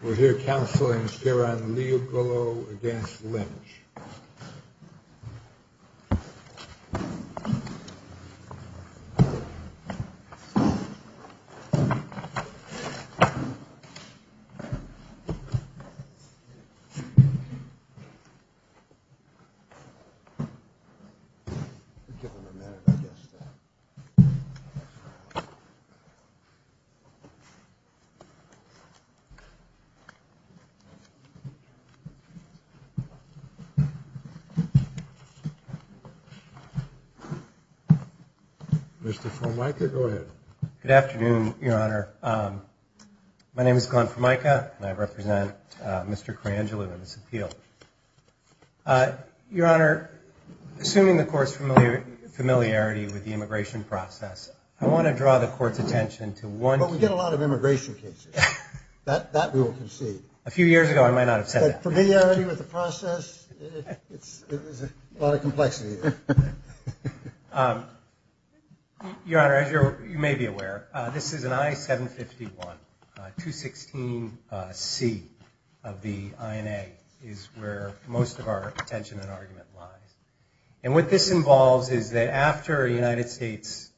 We're here counseling Shiranlioglu against Lynch. Mr. Formica, go ahead. Good afternoon, Your Honor. My name is Glenn Formica, and I represent Mr. Kuranlioglu in this appeal. Your Honor, assuming the court's familiarity with the immigration process, I want to draw the court's attention to one... Well, we get a lot of immigration cases. That we will concede. A few years ago, I might not have said that. But familiarity with the process, it's a lot of complexity. Your Honor, as you may be aware, this is an I-751. 216C of the INA is where most of our attention and argument lies. And what this involves is that after a United States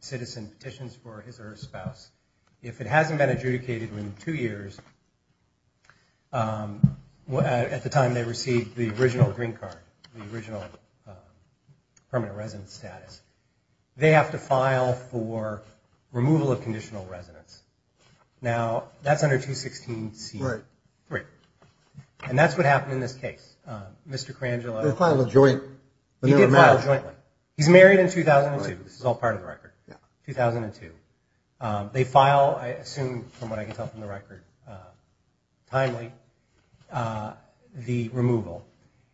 citizen petitions for his or her spouse, if it hasn't been adjudicated within two years at the time they received the original green card, the original permanent resident status, they have to file for removal of conditional residence. Now, that's under 216C. And that's what happened in this case. Mr. Kuranlioglu... He did file jointly. He's married in 2002. This is all part of the record. 2002. They file, I assume, from what I can tell from the record, timely, the removal.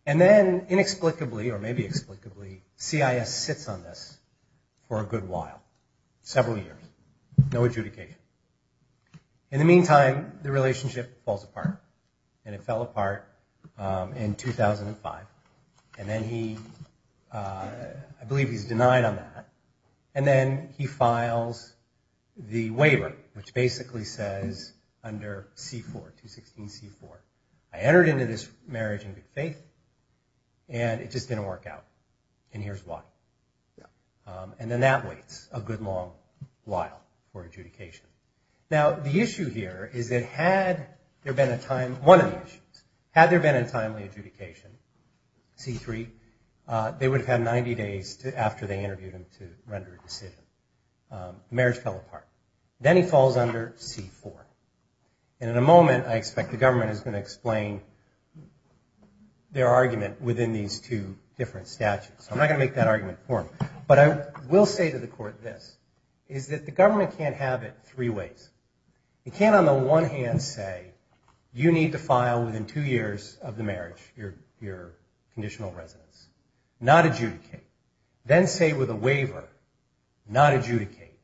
And then, inexplicably, or maybe explicably, CIS sits on this for a good while. Several years. No adjudication. In the meantime, the relationship falls apart. And it fell apart in 2005. And then he... I believe he's denied on that. And then he files the waiver, which basically says under C4, 216C4, I entered into this marriage in good faith, and it just didn't work out. And here's why. And then that waits a good long while for adjudication. Now, the issue here is that had there been a timely adjudication, C3, they would have had 90 days after they interviewed him to render a decision. Marriage fell apart. Then he falls under C4. And in a moment, I expect the government is going to explain their argument within these two different statutes. I'm not going to make that argument for them. But I will say to the court this, is that the government can't have it three ways. It can't on the one hand say, you need to file within two years of the marriage your conditional residence. Not adjudicate. Then say with a waiver, not adjudicate.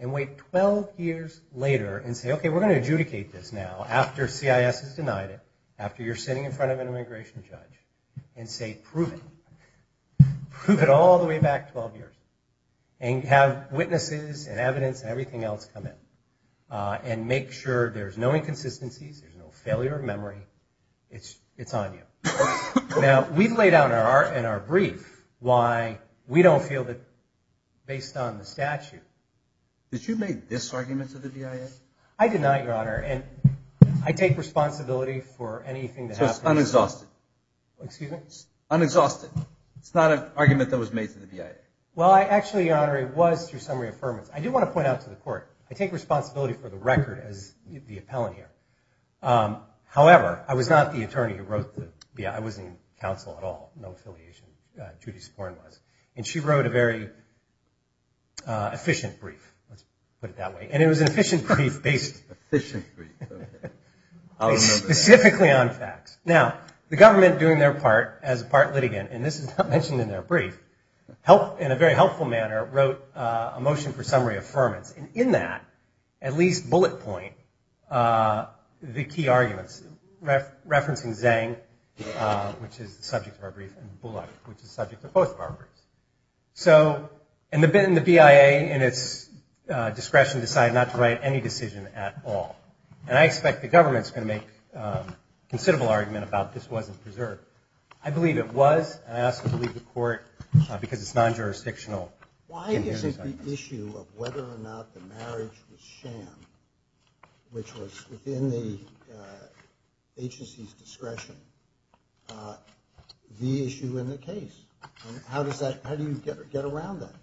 And wait 12 years later and say, okay, we're going to adjudicate this now after CIS has denied it, after you're sitting in front of an immigration judge, and say, prove it. Prove it all the way back 12 years. And have witnesses and evidence and everything else come in. And make sure there's no inconsistencies, there's no failure of memory. It's on you. Now, we've laid out in our brief why we don't feel that based on the statute. Did you make this argument to the BIA? So it's unexhausted. It's not an argument that was made to the BIA. I do want to point out to the court, I take responsibility for the record as the appellant here. However, I was not the attorney who wrote the BIA. I wasn't in counsel at all. No affiliation. Judy Sporn was. And she wrote a very efficient brief. Let's put it that way. And it was an efficient brief. Specifically on facts. Now, the government doing their part as a part litigant, and this is not mentioned in their brief, in a very helpful manner, wrote a motion for summary affirmance. And in that, at least bullet point, the key arguments. Referencing Zhang, which is the subject of our brief, and Bullock, which is the subject of both of our briefs. So, and the BIA, in its discretion, decided not to write any decision at all. And I expect the government's going to make a considerable argument about this wasn't preserved. I believe it was, and I also believe the court, because it's non-jurisdictional. Why is it the issue of whether or not the marriage was sham, which was within the agency's discretion, the issue in the case? And how does that, how do you get around that?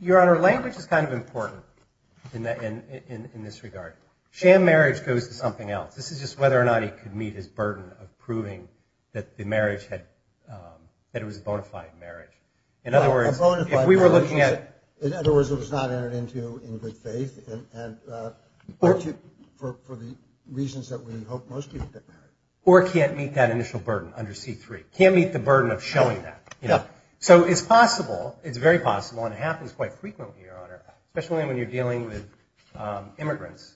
Your Honor, language is kind of important in this regard. Sham marriage goes to something else. This is just whether or not he could meet his burden of proving that the marriage had, that it was a bona fide marriage. In other words, if we were looking at. In other words, it was not entered into in good faith. And for the reasons that we hope most people get married. Or can't meet that initial burden under C3. Can't meet the burden of showing that. So it's possible, it's very possible, and it happens quite frequently, Your Honor, especially when you're dealing with immigrants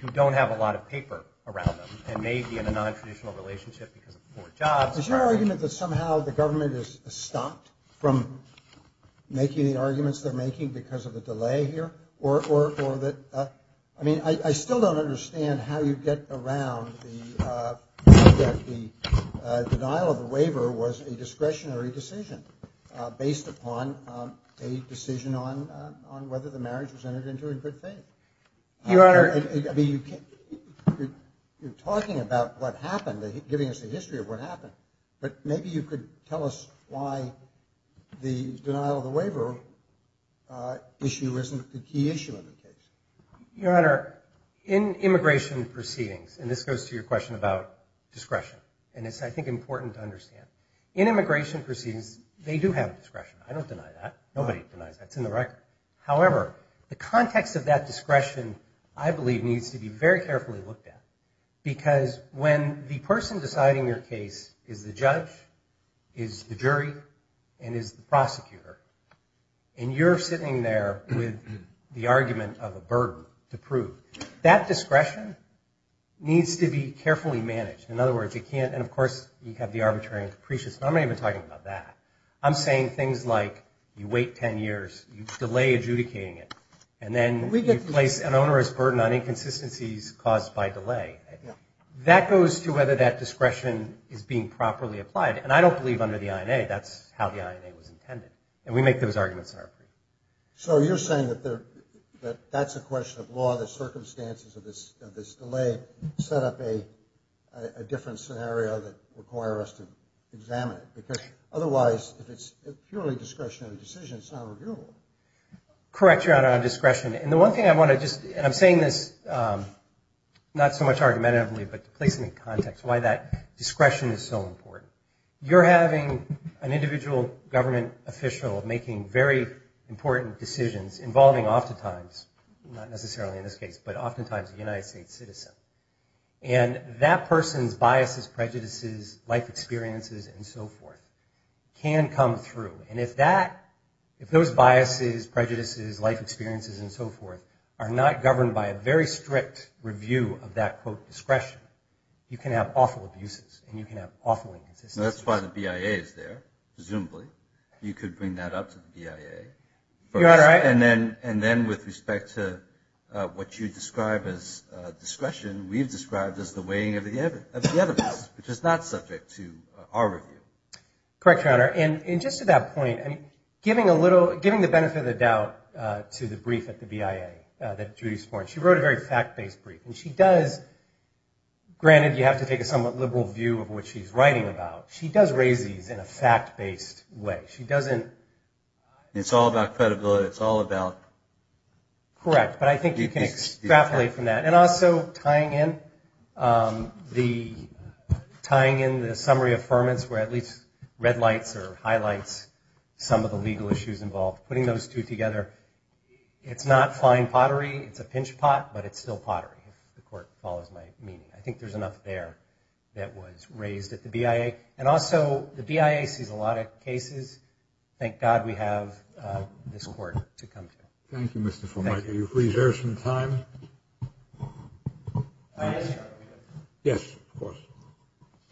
who don't have a lot of paper around them and may be in a non-traditional relationship because of poor jobs. Is your argument that somehow the government has stopped from making the arguments they're making because of a delay here? Or that, I mean, I still don't understand how you get around the denial of the waiver was a discretionary decision based upon a decision on whether the marriage was entered into in good faith. Your Honor. I mean, you're talking about what happened, giving us a history of what happened. But maybe you could tell us why the denial of the waiver issue isn't the key issue of the case. Your Honor, in immigration proceedings, and this goes to your question about discretion. And it's, I think, important to understand. In immigration proceedings, they do have discretion. I don't deny that. Nobody denies that. It's in the record. However, the context of that discretion, I believe, needs to be very carefully looked at. Because when the person deciding your case is the judge, is the jury, and is the prosecutor, and you're sitting there with the argument of a burden to prove, that discretion needs to be carefully managed. In other words, you can't, and of course, you have the arbitrary and capricious, and I'm not even talking about that. I'm saying things like you wait 10 years, you delay adjudicating it, and then you place an onerous burden on inconsistencies caused by delay. That goes to whether that discretion is being properly applied. And I don't believe, under the INA, that's how the INA was intended. And we make those arguments in our brief. So you're saying that that's a question of law, the circumstances of this delay, set up a different scenario that require us to examine it. Because otherwise, if it's purely discretionary decision, it's not reviewable. Correct, Your Honor, on discretion. And the one thing I want to just, and I'm saying this, not so much argumentatively, but to place it in context, why that discretion is so important. You're having an individual government official making very important decisions involving oftentimes, not necessarily in this case, but oftentimes a United States citizen. And that person's biases, prejudices, life experiences, and so forth can come through. And if those biases, prejudices, life experiences, and so forth are not governed by a very strict review of that, quote, discretion, you can have awful abuses and you can have awful inconsistencies. That's why the BIA is there, presumably. You could bring that up to the BIA. And then with respect to what you describe as discretion, we've described as the weighing of the evidence, which is not subject to our review. Correct, Your Honor. And just to that point, giving a little, giving the benefit of the doubt to the brief at the BIA that Judy Sporn, she wrote a very fact-based brief. And she does, granted you have to take a somewhat liberal view of what she's writing about, she does raise these in a fact-based way. She doesn't... It's all about credibility. It's all about... Correct, but I think you can extrapolate from that. And also tying in the summary affirmance where at least red lights or highlights some of the legal issues involved, putting those two together, it's not fine pottery. It's a pinch pot, but it's still pottery, if the court follows my meaning. I think there's enough there that was raised at the BIA. And also the BIA sees a lot of cases. Thank God we have this court to come to. Thank you, Mr. Formica. Are you free to share some time? Yes, of course.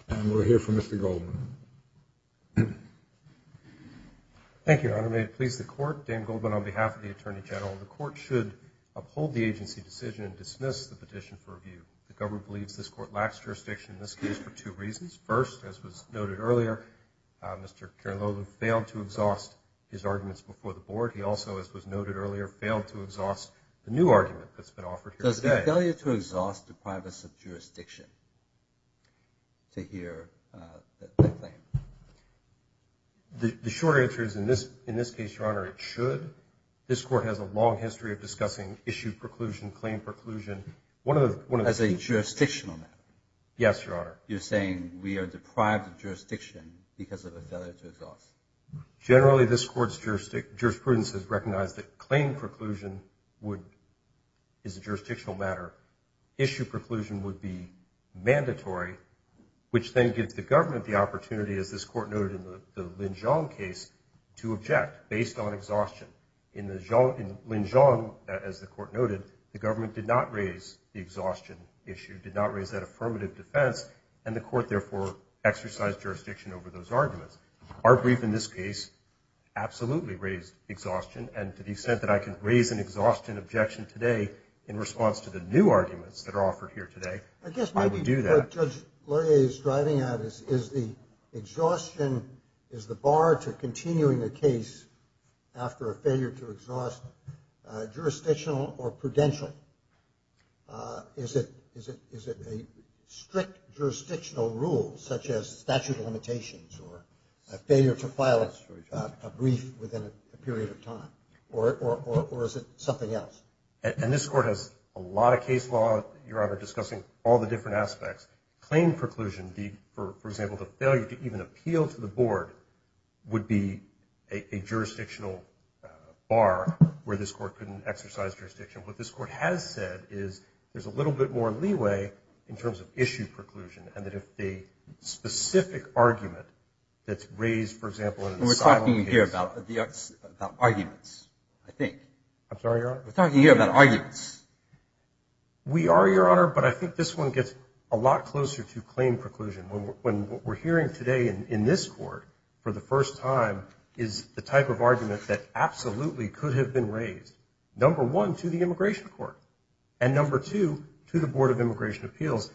And we'll hear from Mr. Goldman. Thank you, Your Honor. May it please the court. Dan Goldman on behalf of the Attorney General. The court should uphold the agency decision and dismiss the petition for review. The government believes this court lacks jurisdiction in this case for two reasons. First, as was noted earlier, Mr. Keralo failed to exhaust his arguments before the board. He also, as was noted earlier, failed to exhaust the new argument that's been offered here today. Does it fail you to exhaust the privacy of jurisdiction to hear the claim? The short answer is in this case, Your Honor, it should. This court has a long history of discussing issue preclusion, claim preclusion. As a jurisdictional matter? Yes, Your Honor. You're saying we are deprived of jurisdiction because of a failure to exhaust? Generally, this court's jurisprudence has recognized that claim preclusion is a jurisdictional matter. Issue preclusion would be mandatory, which then gives the government the opportunity, as this court noted in the Lin Zhong case, to object based on exhaustion. In Lin Zhong, as the court noted, the government did not raise the exhaustion issue, did not raise that affirmative defense, and the court therefore exercised jurisdiction over those arguments. Our brief in this case absolutely raised exhaustion. And to the extent that I can raise an exhaustion objection today in response to the new arguments that are offered here today, I would do that. Is the bar to continuing the case after a failure to exhaust jurisdictional or prudential? Is it a strict jurisdictional rule, such as statute of limitations, or a failure to file a brief within a period of time, or is it something else? And this court has a lot of case law, Your Honor, discussing all the different aspects. Claim preclusion, for example, the failure to even appeal to the board, would be a jurisdictional bar where this court couldn't exercise jurisdiction. What this court has said is there's a little bit more leeway in terms of issue preclusion, and that if the specific argument that's raised, for example, in an asylum case... We're talking here about arguments, I think. I'm sorry, Your Honor? We're talking here about arguments. We are, Your Honor, but I think this one gets a lot closer to claim preclusion. When what we're hearing today in this court for the first time is the type of argument that absolutely could have been raised, number one, to the Immigration Court, and number two, to the Board of Immigration Appeals,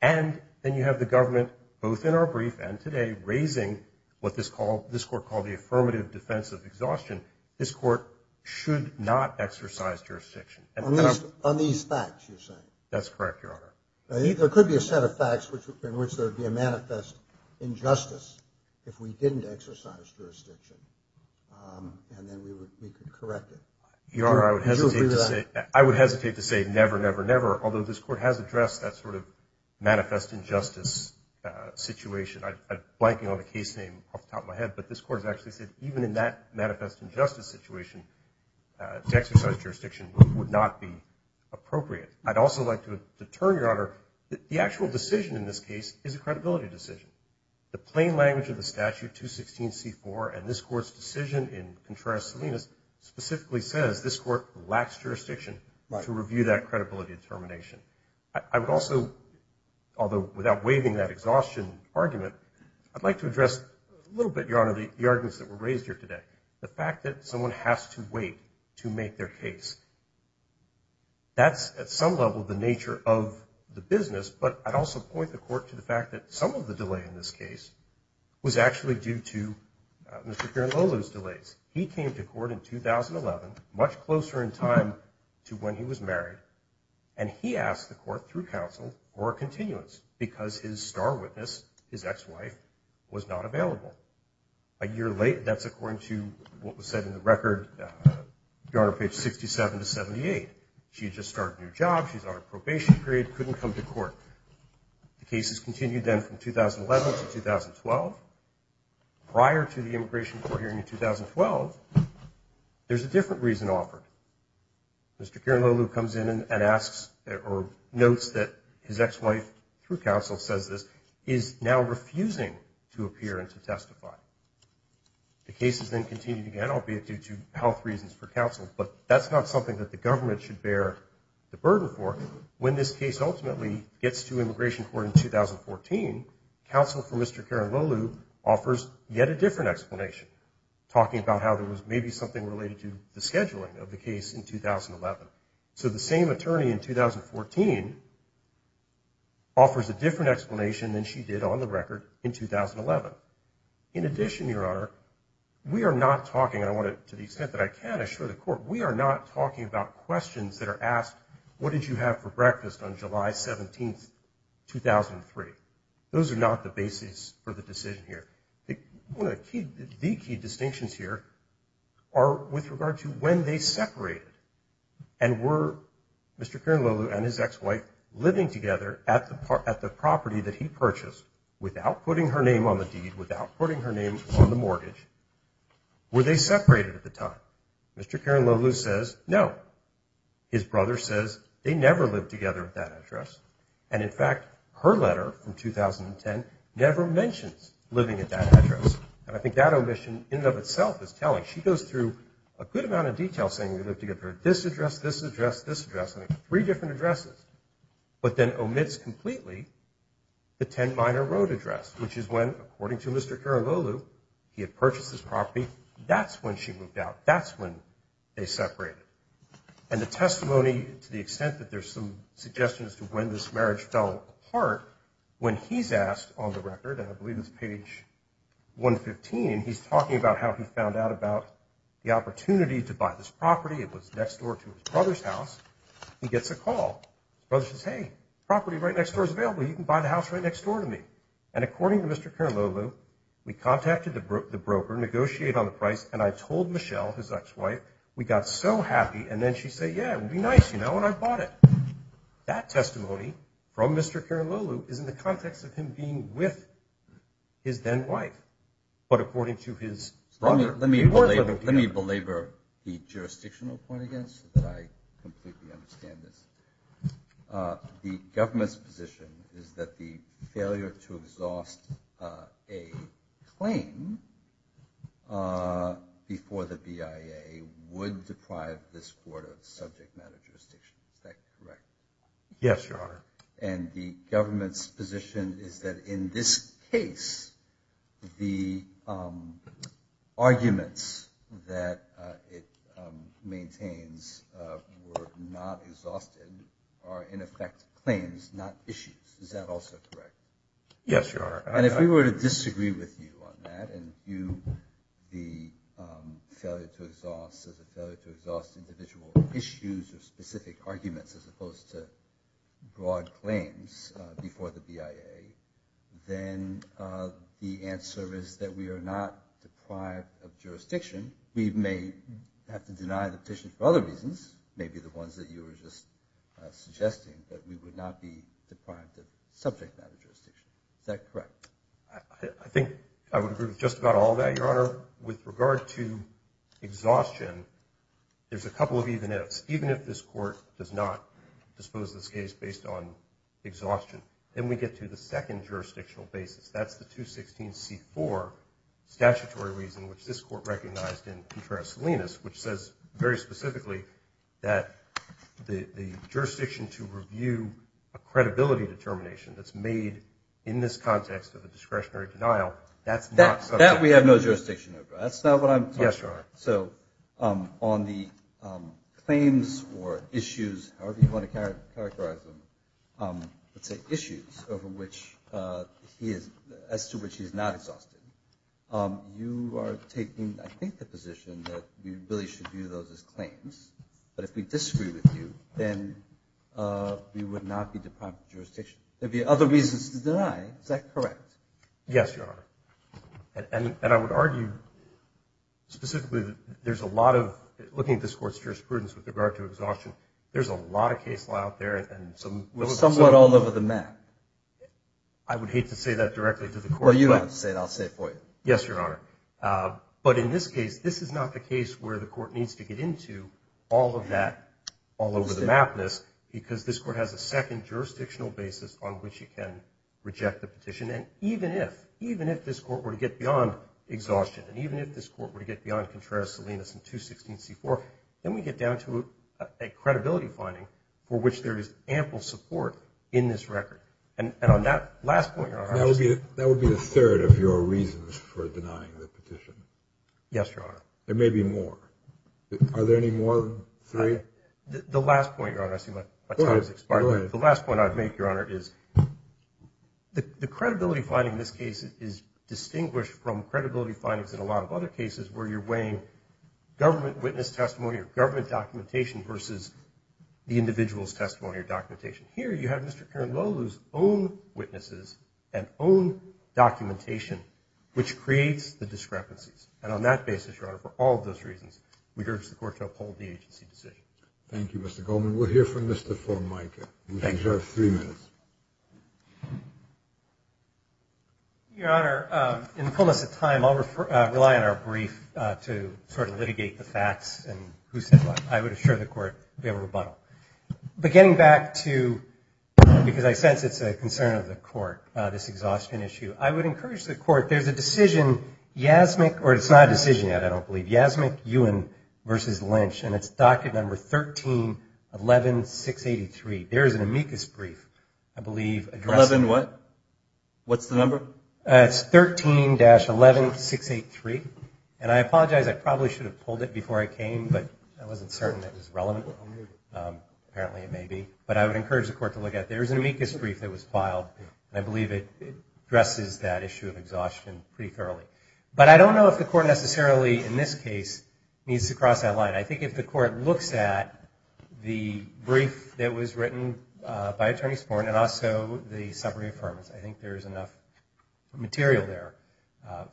and then you have the government, both in our brief and today, raising what this court called the affirmative defense of exhaustion. This court should not exercise jurisdiction. On these facts, you're saying? That's correct, Your Honor. There could be a set of facts in which there would be a manifest injustice if we didn't exercise jurisdiction, and then we could correct it. Your Honor, I would hesitate to say never, never, never, although this court has addressed that sort of manifest injustice situation. I'm blanking on the case name off the top of my head, but this court has actually said even in that manifest injustice situation, to exercise jurisdiction would not be appropriate. I'd also like to determine, Your Honor, that the actual decision in this case is a credibility decision. The plain language of the statute, 216C4, and this court's decision in Contreras-Salinas, specifically says this court lacks jurisdiction to review that credibility determination. I would also, although without waiving that exhaustion argument, I'd like to address a little bit, Your Honor, the arguments that were raised here today. The fact that someone has to wait to make their case. That's at some level the nature of the business, but I'd also point the court to the fact that some of the delay in this case was actually due to Mr. Piernolo's delays. He came to court in 2011, much closer in time to when he was married, and he asked the court through counsel for a continuance because his star witness, his ex-wife, was not available. A year late, that's according to what was said in the record, Your Honor, page 67, to 78. She had just started a new job, she's on a probation period, couldn't come to court. The case has continued then from 2011 to 2012. Prior to the immigration court hearing in 2012, there's a different reason offered. Mr. Piernolo comes in and asks or notes that his ex-wife, through counsel, says this, is now refusing to appear and to testify. The case has then continued again, albeit due to health reasons for counsel, but that's not something that the government should bear the burden for. When this case ultimately gets to immigration court in 2014, counsel for Mr. Piernolo offers yet a different explanation, talking about how there was maybe something related to the scheduling of the case in 2011. So the same attorney in 2014 offers a different explanation than she did on the record in 2011. In addition, Your Honor, we are not talking, to the extent that I can assure the court, we are not talking about questions that are asked, what did you have for breakfast on July 17, 2003? Those are not the basis for the decision here. The key distinctions here are with regard to when they separated and were Mr. Piernolo and his ex-wife living together at the property that he purchased without putting her name on the deed, without putting her name on the mortgage, were they separated at the time? Mr. Piernolo says no. His brother says they never lived together at that address. And in fact, her letter from 2010 never mentions living at that address. And I think that omission in and of itself is telling. She goes through a good amount of detail saying they lived together at this address, this address, this address, three different addresses, but then omits completely the 10 Minor Road address, which is when, according to Mr. Piernolo, he had purchased this property. That's when she moved out. That's when they separated. And the testimony to the extent that there's some suggestions to when this marriage fell apart, when he's asked on the record, and I believe it's page 115, he's talking about how he found out about the opportunity to buy this property. It was next door to his brother's house. He gets a call. His brother says, hey, property right next door is available. You can buy the house right next door to me. And according to Mr. Piernolo, we contacted the broker, negotiated on the price, and I told Michelle, his ex-wife, we got so happy, and then she said, yeah, it would be nice, you know, and I bought it. That testimony from Mr. Piernolo is in the context of him being with his then-wife, but according to his brother. Let me belabor the jurisdictional point again so that I completely understand this. The government's position is that the failure to exhaust a claim before the BIA would deprive this court of subject matter jurisdiction. Is that correct? Yes, Your Honor. And the government's position is that in this case, the arguments that it maintains were not exhausted are, in effect, claims, not issues. Is that also correct? Yes, Your Honor. And if we were to disagree with you on that and view the failure to exhaust as a failure to exhaust individual issues or specific arguments as opposed to broad claims before the BIA, then the answer is that we are not deprived of jurisdiction. We may have to deny the petition for other reasons, maybe the ones that you were just suggesting, but we would not be deprived of subject matter jurisdiction. Is that correct? I think I would agree with just about all of that, Your Honor. Or with regard to exhaustion, there's a couple of even ifs. Even if this court does not dispose of this case based on exhaustion, then we get to the second jurisdictional basis. That's the 216C4 statutory reason, which this court recognized in Petraeus Salinas, which says very specifically that the jurisdiction to review a credibility determination that's made in this context of a discretionary denial, that's not subject matter. That we have no jurisdiction over. That's not what I'm talking about. Yes, Your Honor. So on the claims or issues, however you want to characterize them, let's say issues as to which he is not exhausted, you are taking, I think, the position that we really should view those as claims. But if we disagree with you, then we would not be deprived of jurisdiction. There would be other reasons to deny. Is that correct? Yes, Your Honor. And I would argue specifically that there's a lot of, looking at this court's jurisprudence with regard to exhaustion, there's a lot of case law out there. Somewhat all over the map. I would hate to say that directly to the court. Well, you don't have to say it. I'll say it for you. Yes, Your Honor. But in this case, this is not the case where the court needs to get into all of that all over the mapness because this court has a second jurisdictional basis on which it can reject the petition. And even if, even if this court were to get beyond exhaustion, and even if this court were to get beyond Contreras, Salinas, and 216C4, then we get down to a credibility finding for which there is ample support in this record. And on that last point, Your Honor. That would be a third of your reasons for denying the petition. Yes, Your Honor. There may be more. Are there any more than three? The last point, Your Honor, I see my time has expired. Go ahead. The last point I would make, Your Honor, is the credibility finding in this case is distinguished from credibility findings in a lot of other cases where you're weighing government witness testimony or government documentation versus the individual's testimony or documentation. Here you have Mr. Kern Lowell's own witnesses and own documentation which creates the discrepancies. And on that basis, Your Honor, for all of those reasons, we urge the court to uphold the agency decision. Thank you, Mr. Goldman. We'll hear from Mr. Formica. You have three minutes. Your Honor, in the fullness of time, I'll rely on our brief to sort of litigate the facts and who said what. I would assure the court we have a rebuttal. But getting back to, because I sense it's a concern of the court, this exhaustion issue, I would encourage the court, there's a decision, Yasmic, or it's not a decision yet, I don't believe, Yasmic Ewan versus Lynch, and it's docket number 1311683. There is an amicus brief, I believe, addressing... Eleven what? What's the number? It's 13-11683. And I apologize, I probably should have pulled it before I came, but I wasn't certain it was relevant. Apparently it may be. But I would encourage the court to look at it. There is an amicus brief that was filed, and I believe it addresses that issue of exhaustion pretty thoroughly. But I don't know if the court necessarily, in this case, needs to cross that line. I think if the court looks at the brief that was written by Attorney Sporn and also the summary affirmance, I think there is enough material there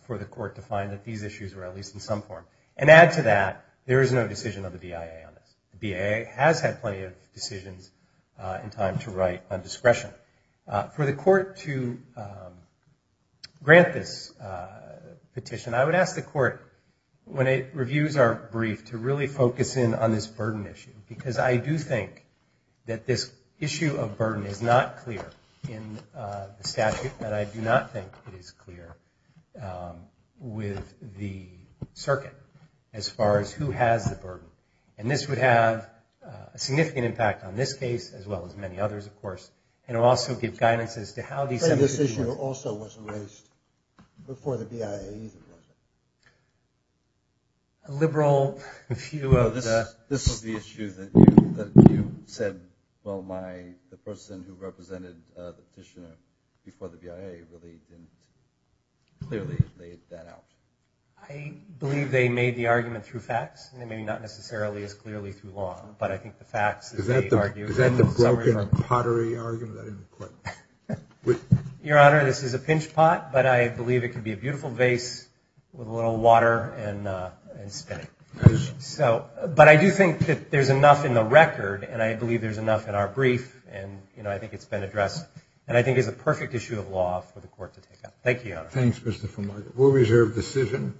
for the court to find that these issues are at least in some form. And add to that, there is no decision of the BIA on this. The BIA has had plenty of decisions in time to write on discretion. For the court to grant this petition, I would ask the court, when it reviews our brief, to really focus in on this burden issue. Because I do think that this issue of burden is not clear in the statute, and I do not think it is clear with the circuit as far as who has the burden. And this would have a significant impact on this case as well as many others, of course. And it would also give guidance as to how these... This issue also was raised before the BIA either was it? A liberal view of the... This is the issue that you said, well, the person who represented the petitioner before the BIA really didn't clearly lay that out. I believe they made the argument through facts, and maybe not necessarily as clearly through law. Is that the broken pottery argument? Your Honor, this is a pinch pot, but I believe it can be a beautiful vase with a little water and spinning. But I do think that there is enough in the record, and I believe there is enough in our brief, and I think it has been addressed, and I think it is a perfect issue of law for the court to take up. Thank you, Your Honor. Thanks, Mr. Fumar. We will reserve the decision.